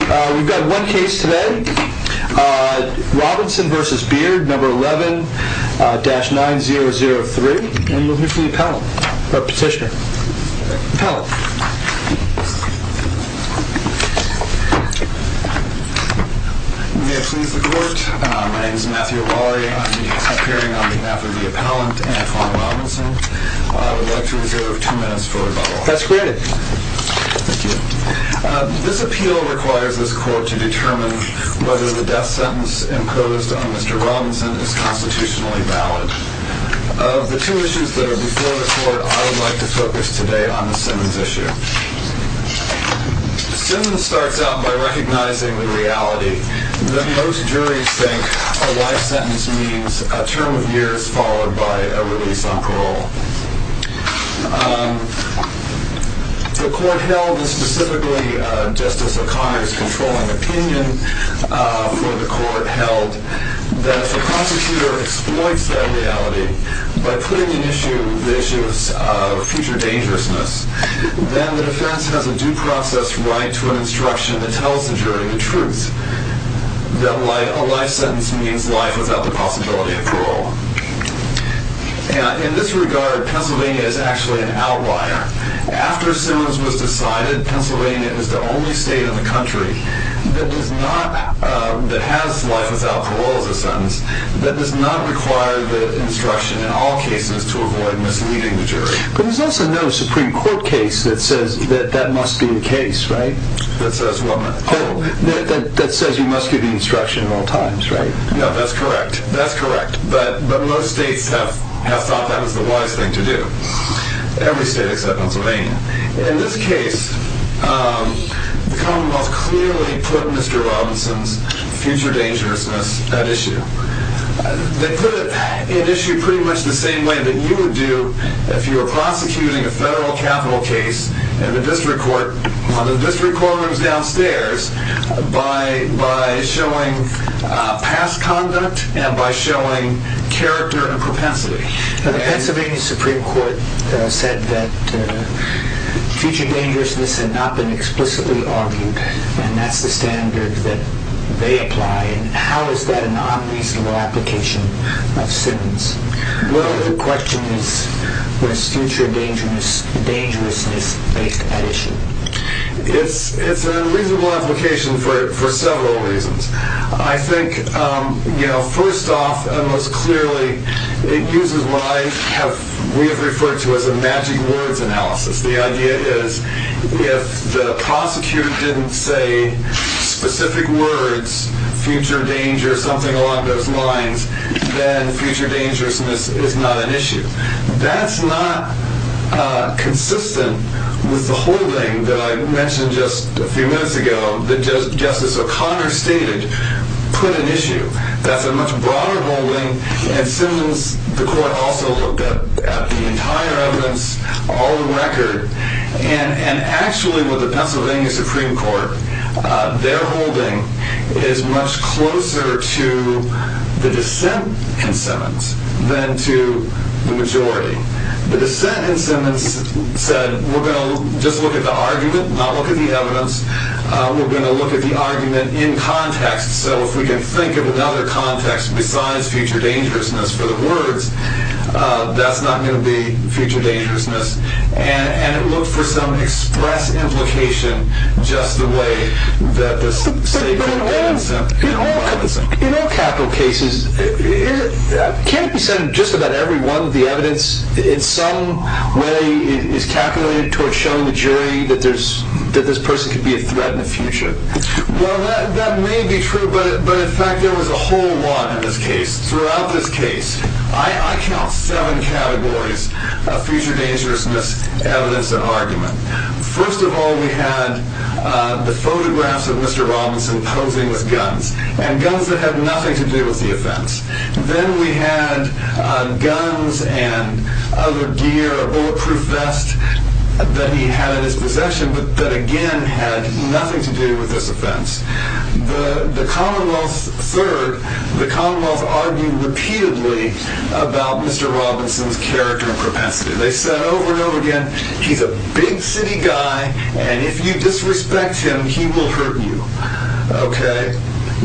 We've got one case today, Robinson v. Beard, No. 11-9003, and we'll hear from the appellant, or petitioner. Appellant. May I please the court? My name is Matthew Lawry. I'm here on behalf of the appellant, Antoine Robinson. I would like to reserve two minutes for rebuttal. Thank you. This appeal requires that the defendant be found guilty. It also requires this court to determine whether the death sentence imposed on Mr. Robinson is constitutionally valid. Of the two issues that are before the court, I would like to focus today on the Simmons issue. Simmons starts out by recognizing the reality that most juries think a life sentence means a term of years followed by a release on parole. The court held, and specifically Justice O'Connor's controlling opinion for the court held, that if a prosecutor exploits that reality by putting the issue of future dangerousness, then the defense has a due process right to an instruction that tells the jury the truth, that a life sentence means life without the possibility of parole. In this regard, Pennsylvania is actually an outlier. After Simmons was decided, Pennsylvania is the only state in the country that has life without parole as a sentence, that does not require the instruction in all cases to avoid misleading the jury. But there's also no Supreme Court case that says that that must be the case, right? That says what? That says you must give the instruction at all times, right? No, that's correct. That's correct. But most states have thought that was the wise thing to do. Every state except Pennsylvania. In this case, the commonwealth clearly put Mr. Robinson's future dangerousness at issue. They put it at issue pretty much the same way that you would do if you were prosecuting a federal capital case in the district court, on the district court rooms downstairs, by showing past conduct and by showing character and propensity. The Pennsylvania Supreme Court said that future dangerousness had not been explicitly argued and that's the standard that they apply. How is that a non-reasonable application of Simmons? The question is, was future dangerousness based at issue? It's a reasonable application for several reasons. I think, first off, most clearly, it uses what we have referred to as a magic words analysis. The idea is, if the prosecutor didn't say specific words, future danger, something along those lines, then future dangerousness is not an issue. That's not consistent with the holding that I mentioned just a few minutes ago that Justice O'Connor stated put at issue. That's a much broader holding and Simmons, the court also looked at the entire evidence, all the record, and actually with the Pennsylvania Supreme Court, their holding is much closer to the dissent in Simmons than to the majority. The dissent in Simmons said, we're going to just look at the argument, not look at the evidence. We're going to look at the argument in context, so if we can think of another context besides future dangerousness for the words, that's not going to be future dangerousness. It looked for some express implication, just the way that the statement was sent. In all capital cases, can't you send just about every one of the evidence in some way is calculated toward showing the jury that this person could be a threat in the future? Well, that may be true, but in fact, there was a whole lot in this case. Throughout this case, I count seven categories of future dangerousness, evidence, and argument. First of all, we had the photographs of Mr. Robinson posing with guns, and guns that had nothing to do with the offense. Then we had guns and other gear, a bulletproof vest that he had in his possession, but that again had nothing to do with this offense. Third, the Commonwealth argued repeatedly about Mr. Robinson's character and propensity. They said over and over again, he's a big city guy, and if you disrespect him, he will hurt you.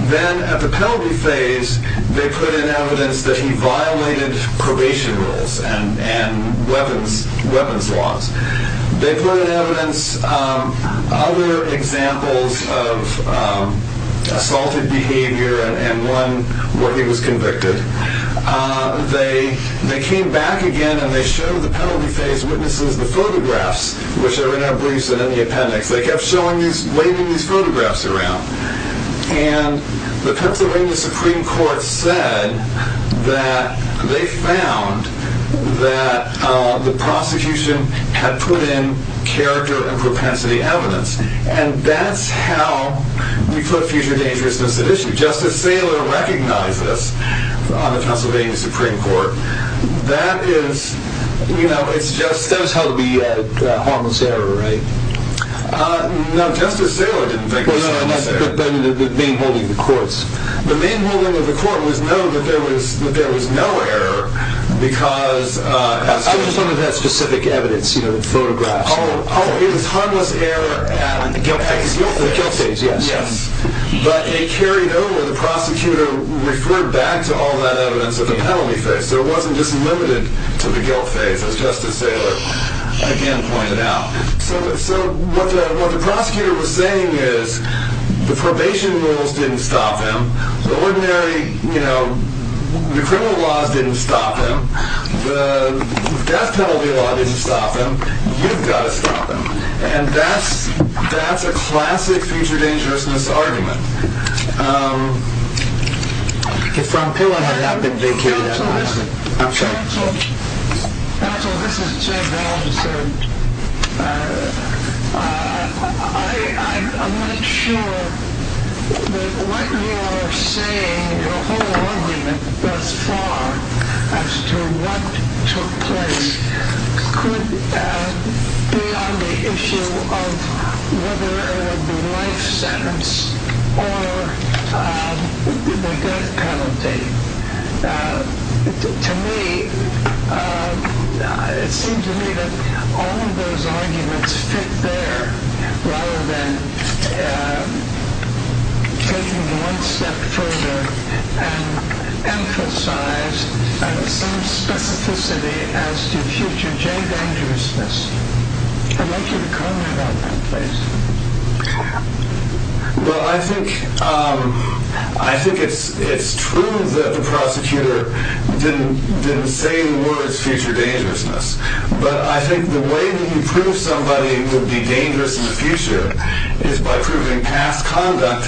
Then at the penalty phase, they put in evidence that he violated probation rules and weapons laws. They put in evidence other examples of assaulted behavior and when he was convicted. They came back again and they showed the penalty phase witnesses the photographs, which are in our briefs and in the appendix. They kept waving these photographs around. The Pennsylvania Supreme Court said that they found that the prosecution had put in character and propensity evidence. That's how we put future dangerousness at issue. Justice Saylor recognized this on the Pennsylvania Supreme Court. That was held to be a harmless error, right? No, Justice Saylor didn't think it was a harmless error. But in the main holding of the courts. The main holding of the court was known that there was no error because... I'm just talking about specific evidence, photographs. It was harmless error at the guilt phase, yes. But they carried over, the prosecutor referred back to all that evidence at the penalty phase, so it wasn't just limited to the guilt phase, as Justice Saylor again pointed out. So what the prosecutor was saying is the probation rules didn't stop him. The ordinary, you know, the criminal laws didn't stop him. The death penalty law didn't stop him. You've got to stop him. And that's a classic future dangerousness argument. The front pillar had not been vacated at all. Counsel, listen. I'm sorry. I'm not sure that what you are saying, your whole argument thus far as to what took place, could be on the issue of whether it would be life sentence or the death penalty. To me, it seems to me that all of those arguments fit there, rather than taking one step further and emphasize some specificity as to future J-dangerousness. I'd like you to comment on that, please. Well, I think it's true that the prosecutor didn't say the words future dangerousness. But I think the way that he proved somebody would be dangerous in the future is by proving past conduct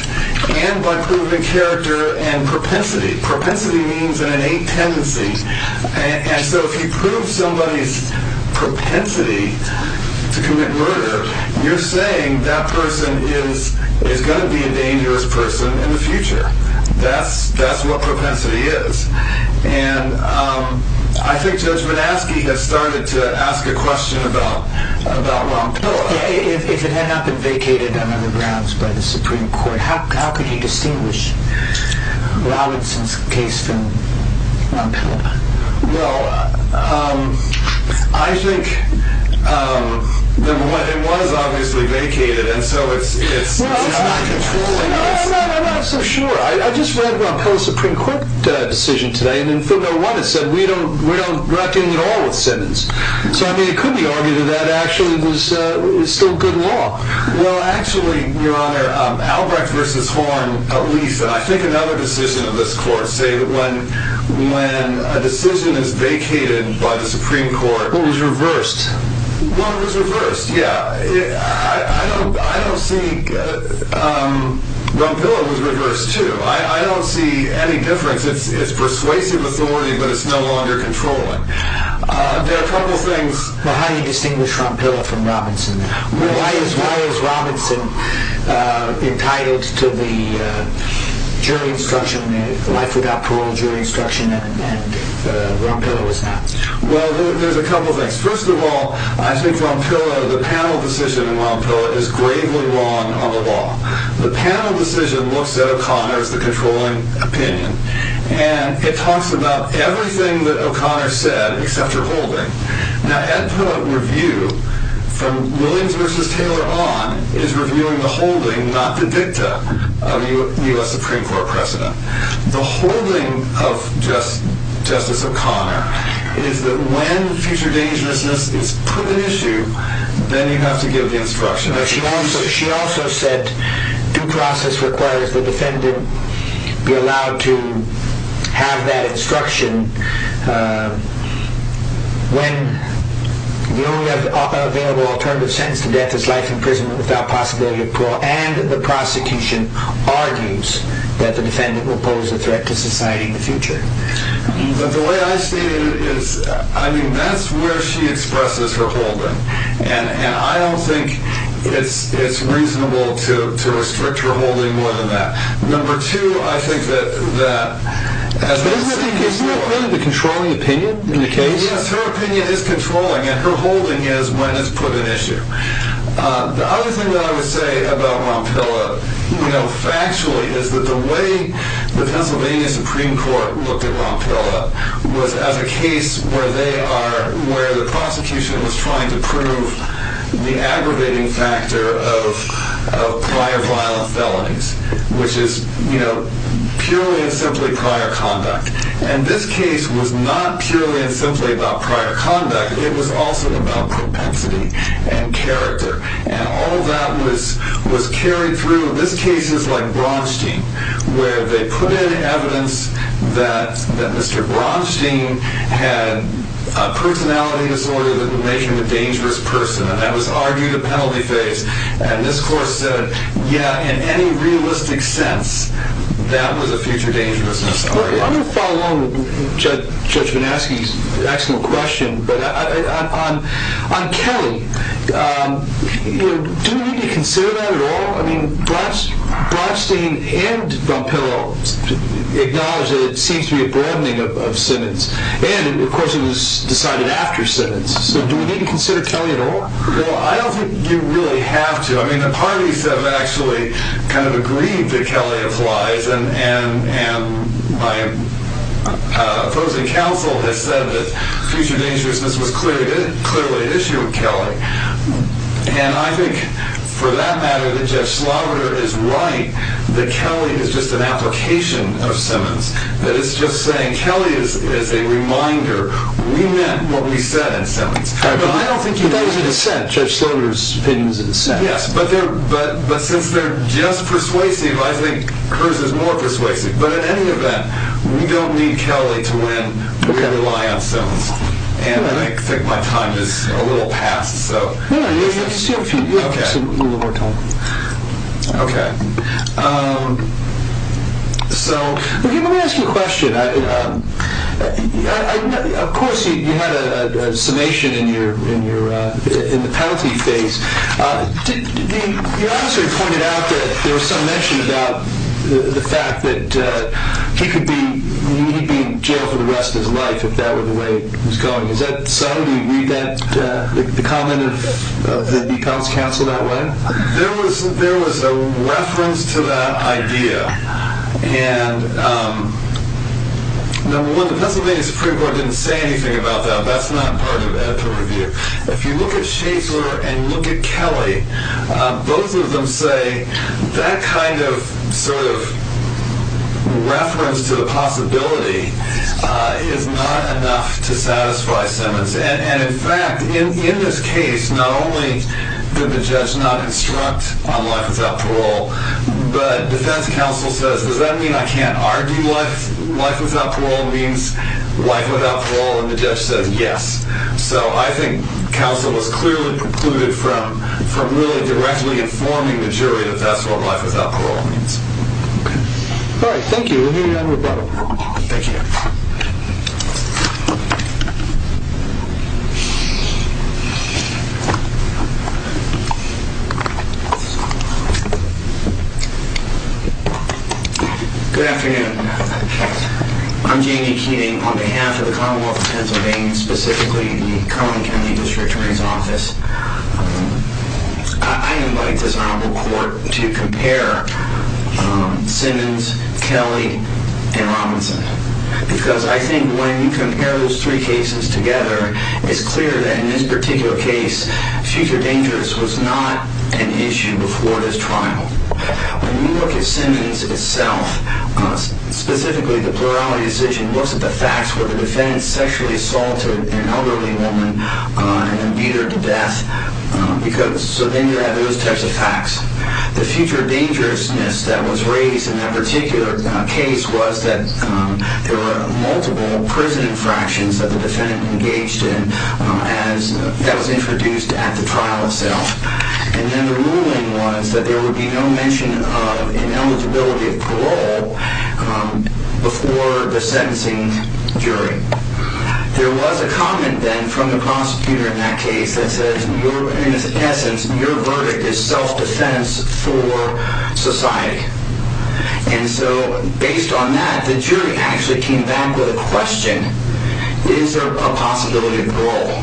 and by proving character and propensity. Propensity means an innate tendency. And so if you prove somebody's propensity to commit murder, you're saying that person is going to be a dangerous person in the future. That's what propensity is. And I think Judge Minaski has started to ask a question about Ron Pilla. If it had not been vacated on other grounds by the Supreme Court, how could he distinguish Robinson's case from Ron Pilla? Well, I think it was obviously vacated, and so it's not controlled. Well, I'm not so sure. I just read Ron Pilla's Supreme Court decision today, and in footnote one it said we don't reckon at all with sentence. So, I mean, it could be argued that that actually is still good law. Well, actually, Your Honor, Albrecht v. Horn, at least, and I think another decision of this Court, say that when a decision is vacated by the Supreme Court Well, it was reversed. Well, it was reversed, yeah. I don't see Ron Pilla was reversed, too. I don't see any difference. It's persuasive authority, but it's no longer controlling. There are a couple of things. Well, how do you distinguish Ron Pilla from Robinson? Why is Robinson entitled to the jury instruction, the life without parole jury instruction, and Ron Pilla was not? Well, there's a couple of things. First of all, I think Ron Pilla, the panel decision in Ron Pilla, is gravely wrong on the law. The panel decision looks at O'Connor as the controlling opinion, and it talks about everything that O'Connor said except for holding. Now, Ed Pillow's review from Williams v. Taylor on is reviewing the holding, not the dicta, of the U.S. Supreme Court precedent. The holding of Justice O'Connor is that when future dangerousness is put at issue, then you have to give the instruction. She also said due process requires the defendant be allowed to have that instruction when the only available alternative sentence to death is life imprisonment without possibility of parole, and the prosecution argues that the defendant will pose a threat to society in the future. But the way I see it is, I mean, that's where she expresses her holding, and I don't think it's reasonable to restrict her holding more than that. Number two, I think that... Isn't it really the controlling opinion in the case? Yes, her opinion is controlling, and her holding is when it's put at issue. The other thing that I would say about Ron Pilla, you know, factually, is that the way the Pennsylvania Supreme Court looked at Ron Pilla was as a case where they are... where the prosecution was trying to prove the aggravating factor of prior violent felonies, which is, you know, purely and simply prior conduct. And this case was not purely and simply about prior conduct. It was also about propensity and character, and all of that was carried through. So this case is like Bronstein, where they put in evidence that Mr. Bronstein had a personality disorder that would make him a dangerous person, and that was argued a penalty phase. And this court said, yeah, in any realistic sense, that was a future dangerousness argument. I'm going to follow along with Judge Bonaski's excellent question, but on Kelly, do we need to consider that at all? I mean, Bronstein and Ron Pilla acknowledge that it seems to be a broadening of sentence. And, of course, it was decided after sentence. So do we need to consider Kelly at all? Well, I don't think you really have to. I mean, the parties have actually kind of agreed that Kelly applies, and my opposing counsel has said that future dangerousness was clearly an issue with Kelly. And I think, for that matter, that Judge Slaughter is right, that Kelly is just an application of Simmons, that it's just saying Kelly is a reminder. We meant what we said in Simmons. But I don't think you've raised a dissent. Judge Slaughter's opinion is a dissent. Yes, but since they're just persuasive, I think hers is more persuasive. But in any event, we don't need Kelly to win. We rely on Simmons. And I think my time is a little past, so. No, no, you have just a little more time. Okay. So let me ask you a question. Of course, you had a summation in the penalty phase. The officer pointed out that there was some mention about the fact that he could be in jail for the rest of his life if that were the way he was going. Is that so? Do you read the comment of the defense counsel that way? There was a reference to that idea. And, number one, the Pennsylvania Supreme Court didn't say anything about that. That's not part of editor review. If you look at Schaefer and look at Kelly, both of them say that kind of reference to the possibility is not enough to satisfy Simmons. And, in fact, in this case, not only did the judge not instruct on life without parole, but defense counsel says, does that mean I can't argue life without parole means life without parole? And the judge says yes. So I think counsel was clearly precluded from really directly informing the jury that that's what life without parole means. Okay. All right. Thank you. We'll hear you out in rebuttal. Thank you. Good afternoon. I'm Jamie Keating on behalf of the Commonwealth of Pennsylvania, specifically the Cullen County District Attorney's Office. I invite this honorable court to compare Simmons, Kelly, and Robinson because I think when you compare those three cases together, it's clear that in this particular case, future dangers was not an issue before this trial. When you look at Simmons itself, specifically the plurality decision, looks at the facts where the defendant sexually assaulted an elderly woman and then beat her to death. So then you have those types of facts. The future dangerousness that was raised in that particular case was that there were multiple prison infractions that the defendant engaged in that was introduced at the trial itself. And then the ruling was that there would be no mention of ineligibility of parole before the sentencing jury. There was a comment then from the prosecutor in that case that says, in its essence, your verdict is self-defense for society. And so based on that, the jury actually came back with a question. Is there a possibility of parole?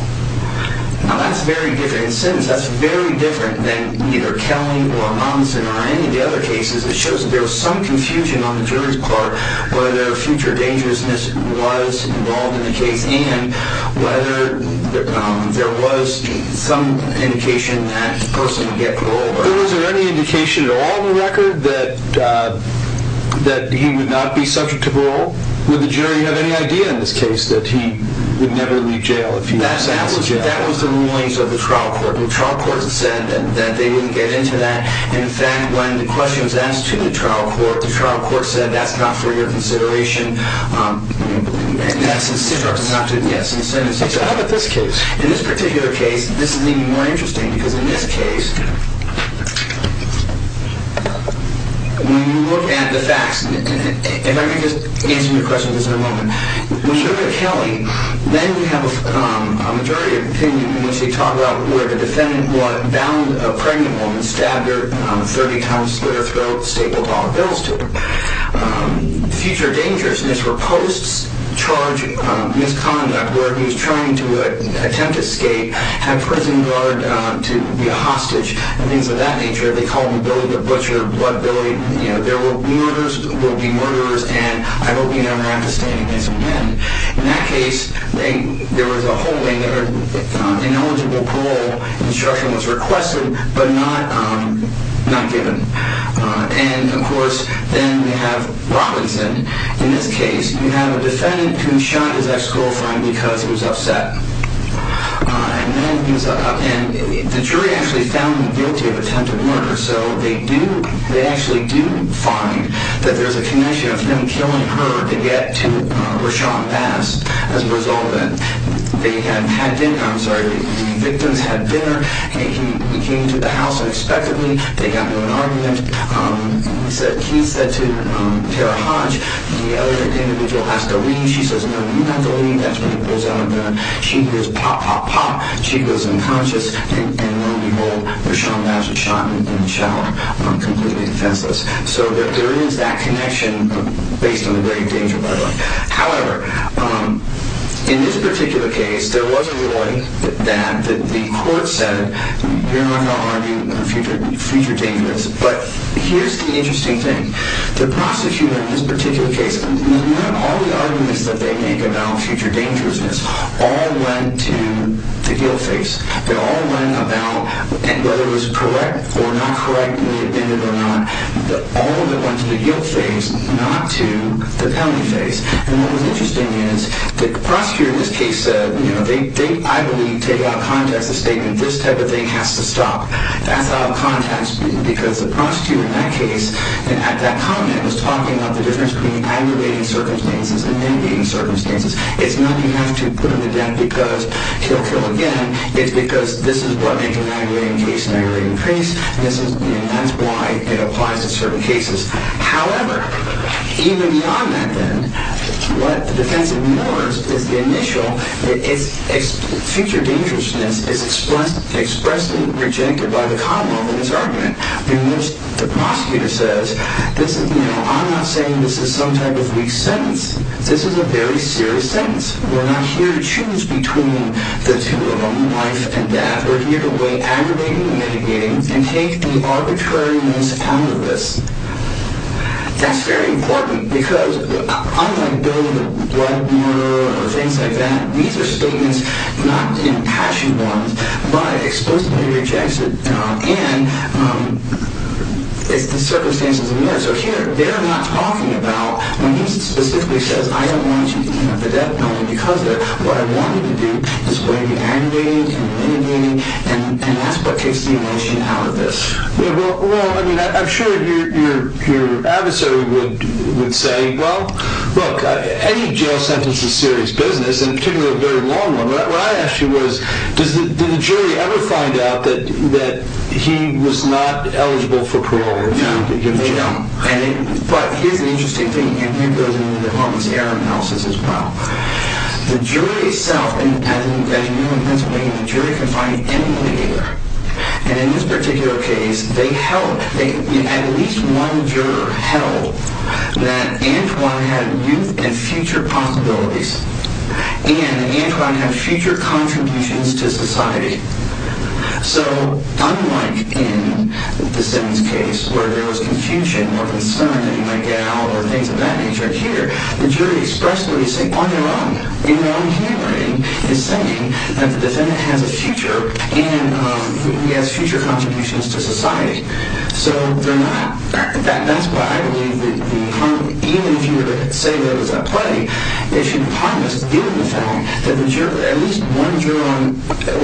Now that's very different. In Simmons, that's very different than either Kelly or Robinson or any of the other cases. It shows that there was some confusion on the jury's part whether future dangerousness was involved in the case and whether there was some indication that the person would get parole. Was there any indication at all in the record that he would not be subject to parole? Would the jury have any idea in this case that he would never leave jail if he was sent to jail? That was the rulings of the trial court. The trial court said that they wouldn't get into that. In fact, when the question was asked to the trial court, the trial court said, that's not for your consideration. In essence, Simmons did not do it. So how about this case? In this particular case, this is even more interesting because in this case, when you look at the facts, and let me just answer your question on this in a moment. When you look at Kelly, then you have a jury opinion in which they talk about where the defendant was bound a pregnant woman, stabbed her 30 times, slit her throat, stapled all her bills to her. Future dangerousness were post-charge misconduct where he was trying to attempt escape, had a prison guard to be a hostage, and things of that nature. They called him Billy the Butcher, Blood Billy. There were murders, will be murderers, and I hope you never have to stand against them again. In that case, there was a holding. Ineligible parole instruction was requested, but not given. And, of course, then we have Robinson. In this case, you have a defendant who was shot at his ex-girlfriend because he was upset. And the jury actually found him guilty of attempted murder, so they actually do find that there's a connection of him killing her to get to Rashawn Bass as a result of it. They had dinner, I'm sorry, the victims had dinner. He came to the house unexpectedly. They got into an argument. He said to Tara Hodge, the other individual, ask to leave. She says, no, you have to leave. That's what he pulls out of the gun. She goes, pop, pop, pop. She goes unconscious, and lo and behold, Rashawn Bass is shot in the shoulder, completely defenseless. So there is that connection based on the grave danger, by the way. However, in this particular case, there was a ruling that the court said, you're not going to argue future dangers. But here's the interesting thing. The prosecutor in this particular case, all the arguments that they make about future dangerousness all went to the guilt phase. They all went about, and whether it was correct or not correct, may have been it or not, all of it went to the guilt phase, not to the penalty phase. And what was interesting is the prosecutor in this case said, you know, they, I believe, take out of context the statement, this type of thing has to stop. That's out of context, because the prosecutor in that case, at that comment, was talking about the difference between aggravating circumstances and non-aggravating circumstances. It's not enough to put him to death because he'll kill again. It's because this is what makes an aggravating case an aggravating case, and that's why it applies to certain cases. However, even beyond that then, what the defense ignores is the initial, future dangerousness is expressly rejected by the common law in this argument. In which the prosecutor says, I'm not saying this is some type of weak sentence. This is a very serious sentence. We're not here to choose between the two of them, life and death. We're here to weigh aggravating and mitigating and take the arbitrariness out of this. That's very important, because unlike building a blood mirror or things like that, these are statements, not impassioned ones, but explicitly rejected. And it's the circumstances in the mirror. So here, they're not talking about, when he specifically says, I don't want you to come to the death penalty because of it. What I want you to do is weigh aggravating and mitigating, and that's what kicks the emotion out of this. Well, I'm sure your adversary would say, well, look, any jail sentence is serious business, and particularly a very long one. What I asked you was, did the jury ever find out that he was not eligible for parole? No, they don't. But here's an interesting thing. And here goes in the department's error analysis as well. The jury itself, as you know in Pennsylvania, the jury can find anybody there. And in this particular case, they held, at least one juror held, that Antoine had youth and future possibilities. And Antoine had future contributions to society. So unlike in the Simmons case, where there was confusion or concern that he might get out or things of that nature, here, the jury expressed what he's saying on their own, in their own handwriting, is saying that the defendant has a future and he has future contributions to society. So they're not. That's why I believe that even if you were to say that it was a play, it should promise the defendant that at least one juror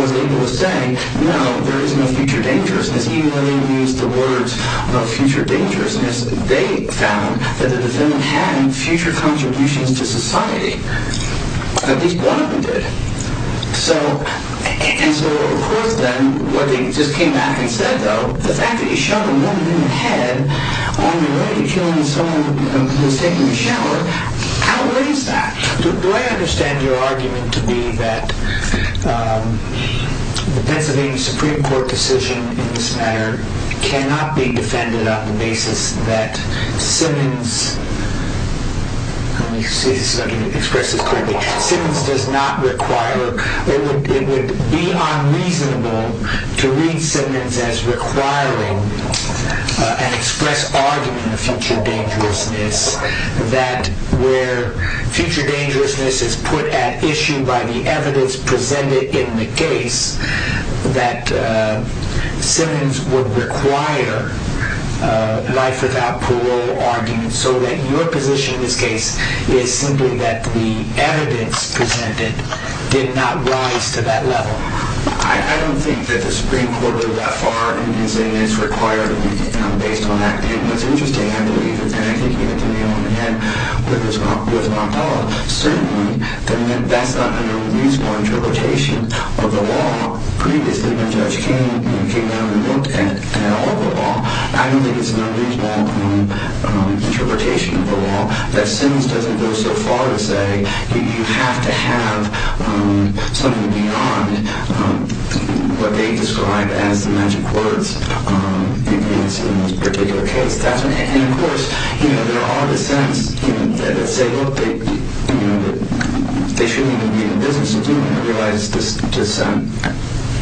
was able to say, no, there is no future dangerousness. Even though they used the words of future dangerousness, they found that the defendant had future contributions to society. At least one of them did. So of course, then, what they just came back and said, though, the fact that you show the woman in the head on the radio showing someone who's taking a shower outweighs that. Do I understand your argument to be that the Pennsylvania Supreme Court decision in this matter cannot be defended on the basis that Simmons does not require, or it would be unreasonable to read Simmons as requiring an express argument of future dangerousness, that where future dangerousness is put at issue by the evidence presented in the case, that Simmons would require a life without parole argument, so that your position in this case is simply that the evidence presented did not rise to that level? I don't think that the Supreme Court would go that far in saying it's required to be based on that. And what's interesting, I believe, and I think you hit the nail on the head with Montella, certainly that's not an unreasonable interpretation of the law. Previously, when Judge King came down and looked at all the law, I don't think it's an unreasonable interpretation of the law that Simmons doesn't go so far to say you have to have something beyond what they describe as the magic words in this particular case. And, of course, there are dissents that say, look, they shouldn't even be in the business of doing that. I realize this dissent,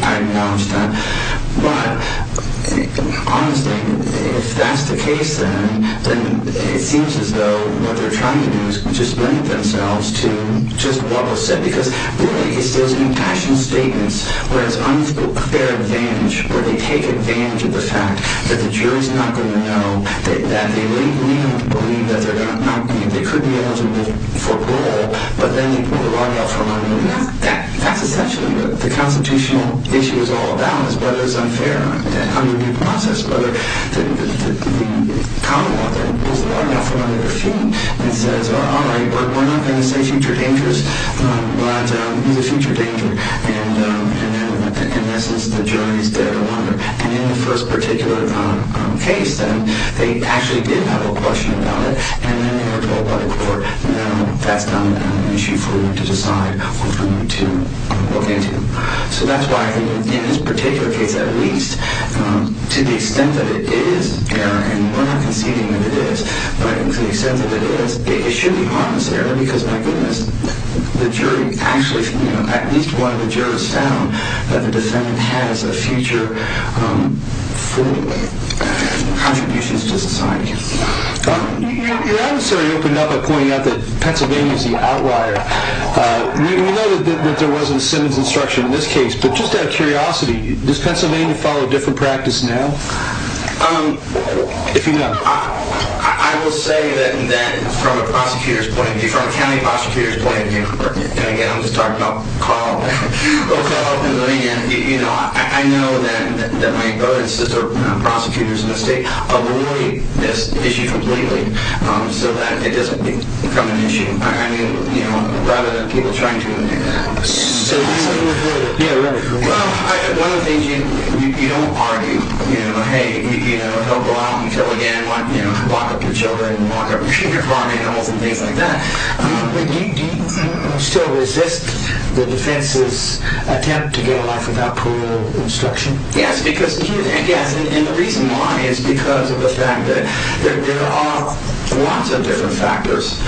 I acknowledge that. But, honestly, if that's the case, then it seems as though what they're trying to do is just link themselves to just what was said. Because, really, it's those impassioned statements where it's unfair advantage, where they take advantage of the fact that the jury's not going to know, that they may not believe that they could be eligible for parole, but then they pull the rod out from under their feet. That's essentially what the constitutional issue is all about, is whether it's unfair. How do you process whether the common law that pulls the rod out from under their feet and says, all right, we're not going to say future dangers, but who's a future danger? And, in essence, the jury's dead or under. And in the first particular case, then, they actually did have a question about it, and then they were told by the court, no, that's not an issue for you to decide or for you to look into. So that's why, in this particular case, at least, to the extent that it is, and we're not conceding that it is, but to the extent that it is, it should be harmless error, because, my goodness, the jury actually, at least one of the jurors found that the defendant has a future for contributions to society. Your adversary opened up by pointing out that Pennsylvania is the outlier. We know that there wasn't Simmons instruction in this case, but just out of curiosity, does Pennsylvania follow a different practice now, if you know? I will say that, from a prosecutor's point of view, from a county prosecutor's point of view, and, again, I'm just talking about Carl. I know that my brother and sister, prosecutors in this state, avoid this issue completely, so that it doesn't become an issue, rather than people trying to do that. One of the things, you don't argue, hey, he'll go out and kill again, lock up your children, lock up your farm animals and things like that. Do you still resist the defense's attempt to get a life without parole instruction? Yes, and the reason why is because of the fact that there are lots of different factors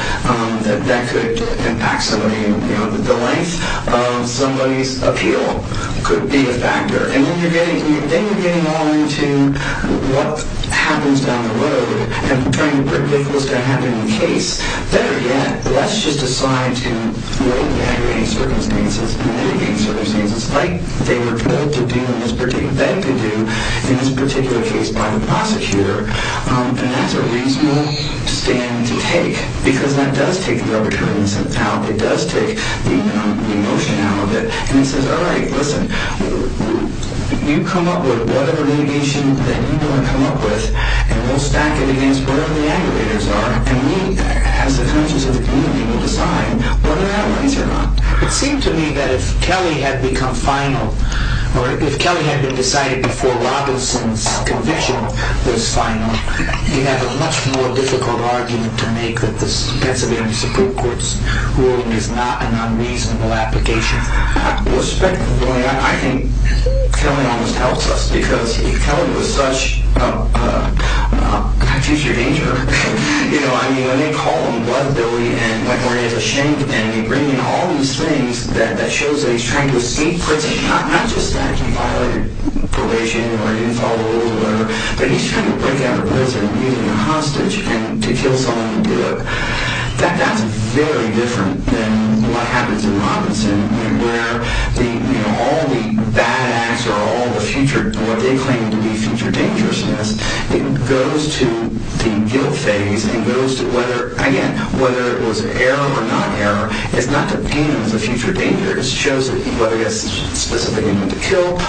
that could impact somebody. The length of somebody's appeal could be a factor, and then you're getting all into what happens down the road, and trying to predict what's going to happen in the case. Better yet, let's just decide to avoid the aggravating circumstances, the mitigating circumstances, like they were told to do, in this particular case by the prosecutor. And that's a reasonable stand to take, because that does take the arbitrariness out, it does take the emotion out of it, and it says, alright, listen, you come up with whatever litigation that you want to come up with, and we'll stack it against whatever the aggravators are, and we, as the conscience of the community, will decide whether that way is or not. It seemed to me that if Kelly had become final, or if Kelly had been decided before Robinson's conviction was final, you'd have a much more difficult argument to make that the Pennsylvania Supreme Court's ruling is not an unreasonable application. Respectfully, I think Kelly almost helps us, because if Kelly was such a future danger, you know, I mean, when they call him blood billy, and when he's ashamed, and they bring in all these things that show that he's trying to escape prison, not just that he violated probation, or he didn't follow the rule, but he's trying to break out of prison using a hostage, and to kill someone to do it. That's very different than what happens in Robinson, where all the bad acts, or what they claim to be future dangerousness, it goes to the guilt phase, and goes to whether, again, whether it was error or not error. It's not to paint him as a future danger. It shows that he, whether it's specifically meant to kill,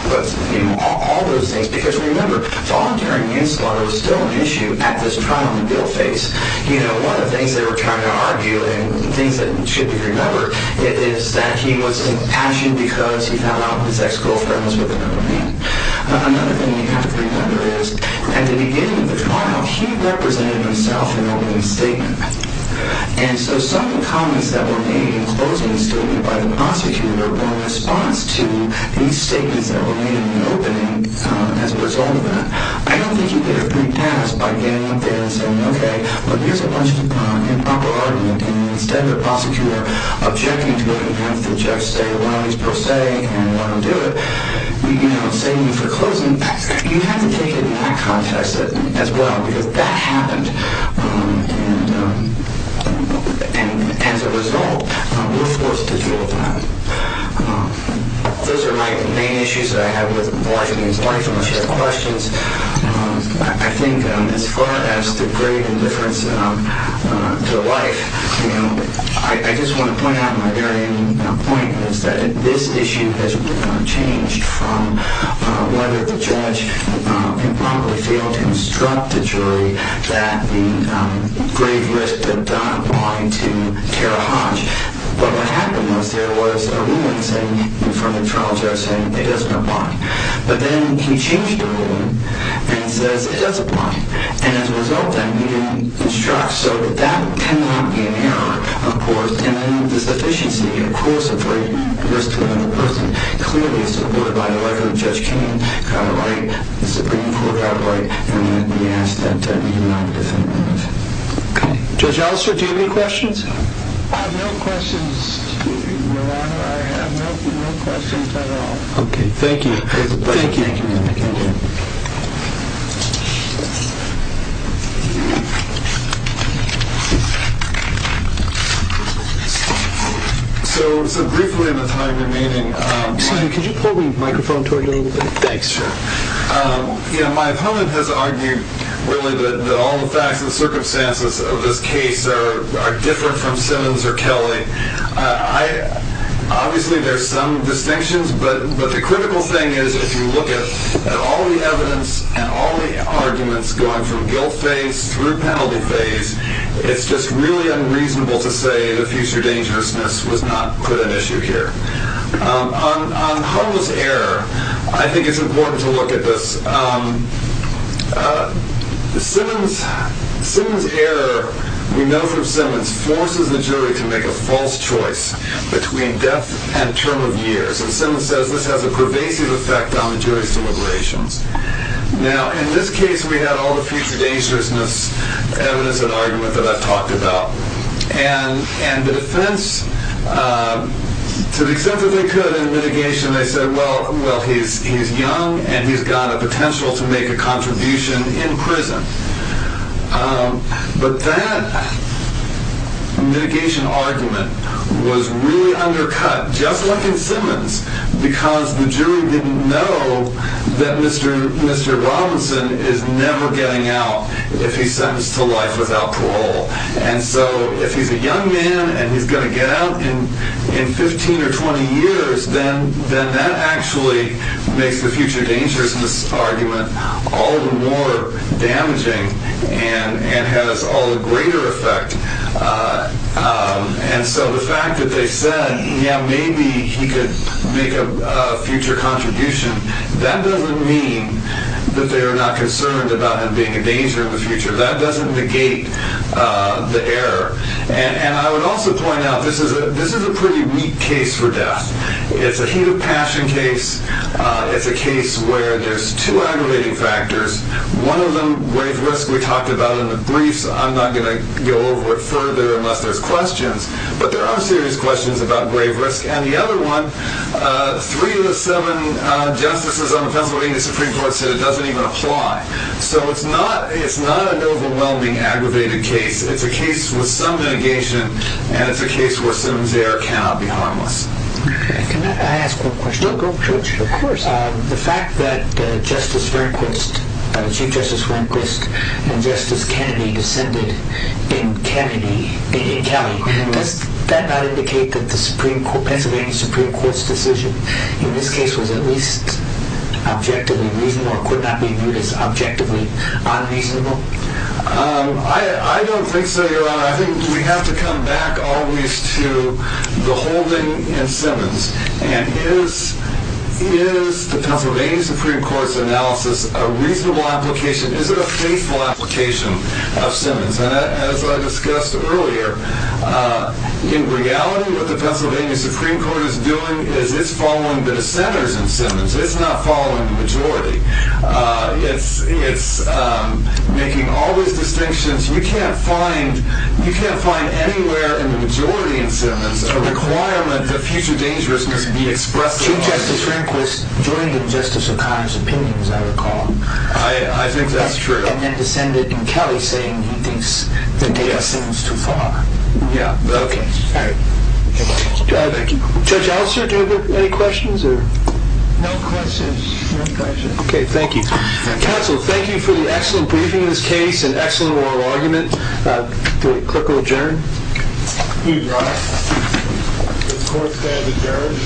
all those things, because remember, voluntary manslaughter was still an issue at this trial in the guilt phase. You know, one of the things they were trying to argue, and things that should be remembered, is that he was impassioned because he found out his ex-girlfriend was with another man. Another thing you have to remember is, at the beginning of the trial, he represented himself in opening statement. And so some of the comments that were made in closing statement by the prosecutor in response to these statements that were made in the opening, as a result of that, I don't think he could have pre-passed by getting up there and saying, okay, but here's a bunch of improper argument, and instead of the prosecutor objecting to it, and having the judge say, well, he's pro se, and why don't we do it, you know, saving you for closing, you have to take it in that context as well, because that happened, and as a result, we're forced to do what we're doing. Those are my main issues that I have with the large amounts of questions. I think as far as the great indifference to life, you know, I just want to point out my very own point, which is that this issue has been changed from whether the judge improperly failed to instruct the jury that the grave risk had done applying to Kara Hodge, but what happened was there was a ruling from the trial judge saying it doesn't apply. But then he changed the ruling and says it does apply, and as a result, that meeting instructs so that that cannot be an error, of course, and then the sufficiency, of course, of grave risk to another person clearly supported by the letter that Judge King got right, the Supreme Court got right, and he asked that that meeting not be defended. Okay. Judge Allister, do you have any questions? I have no questions, Your Honor. I have no questions at all. Okay. Thank you. Thank you. So briefly in the time remaining, Simon, could you pull the microphone toward you a little bit? Thanks, sir. You know, my opponent has argued, really, that all the facts and circumstances of this case are different from Simmons or Kelly. Obviously, there's some distinctions, but the critical thing is if you look at all the evidence and all the arguments going from guilt phase through penalty phase, it's just really unreasonable to say the future dangerousness was not put at issue here. On Hull's error, I think it's important to look at this. Simmons' error, we know from Simmons, forces the jury to make a false choice between death and term of years, and Simmons says this has a pervasive effect on the jury's deliberations. Now, in this case, we had all the future dangerousness evidence and argument that I've talked about, and the defense, to the extent that they could in litigation, they said, well, he's young, and he's got a potential to make a contribution in prison. But that litigation argument was really undercut, just like in Simmons, because the jury didn't know that Mr. Robinson is never getting out if he's sentenced to life without parole. And so if he's a young man and he's going to get out in 15 or 20 years, then that actually makes the future dangerousness argument all the more damaging and has all the greater effect. And so the fact that they said, yeah, maybe he could make a future contribution, that doesn't mean that they are not concerned about him being a danger in the future. That doesn't negate the error. And I would also point out, this is a pretty weak case for death. It's a heat of passion case. It's a case where there's two aggravating factors. One of them, grave risk, we talked about in the briefs. I'm not going to go over it further unless there's questions. But there are serious questions about grave risk. And the other one, three of the seven justices on the Pennsylvania Supreme Court said it doesn't even apply. So it's not an overwhelming, aggravated case. It's a case with some negation, and it's a case where Sims error cannot be harmless. Can I ask one question? Go for it. Of course. The fact that Chief Justice Rehnquist and Justice Kennedy descended in Kennedy, in Kelly, does that not indicate that the Pennsylvania Supreme Court's decision in this case was at least objectively reasonable I don't think so, Your Honor. I think we have to come back always to the holding in Simmons. And is the Pennsylvania Supreme Court's analysis a reasonable application? Is it a faithful application of Simmons? As I discussed earlier, in reality, what the Pennsylvania Supreme Court is doing is it's following the dissenters in Simmons. It's not following the majority. It's making all these distinctions. You can't find anywhere in the majority in Simmons a requirement that future dangerousness be expressed. Chief Justice Rehnquist joined in Justice O'Connor's opinion, as I recall. I think that's true. And then descended in Kelly, saying he thinks the data seems too far. Yeah. Okay. All right. Thank you. Judge Elster, do we have any questions? No questions. Okay. Thank you. Counsel, thank you for the excellent briefing in this case and excellent oral argument. Do we quickly adjourn? Please rise. The court stands adjourned. Thank you.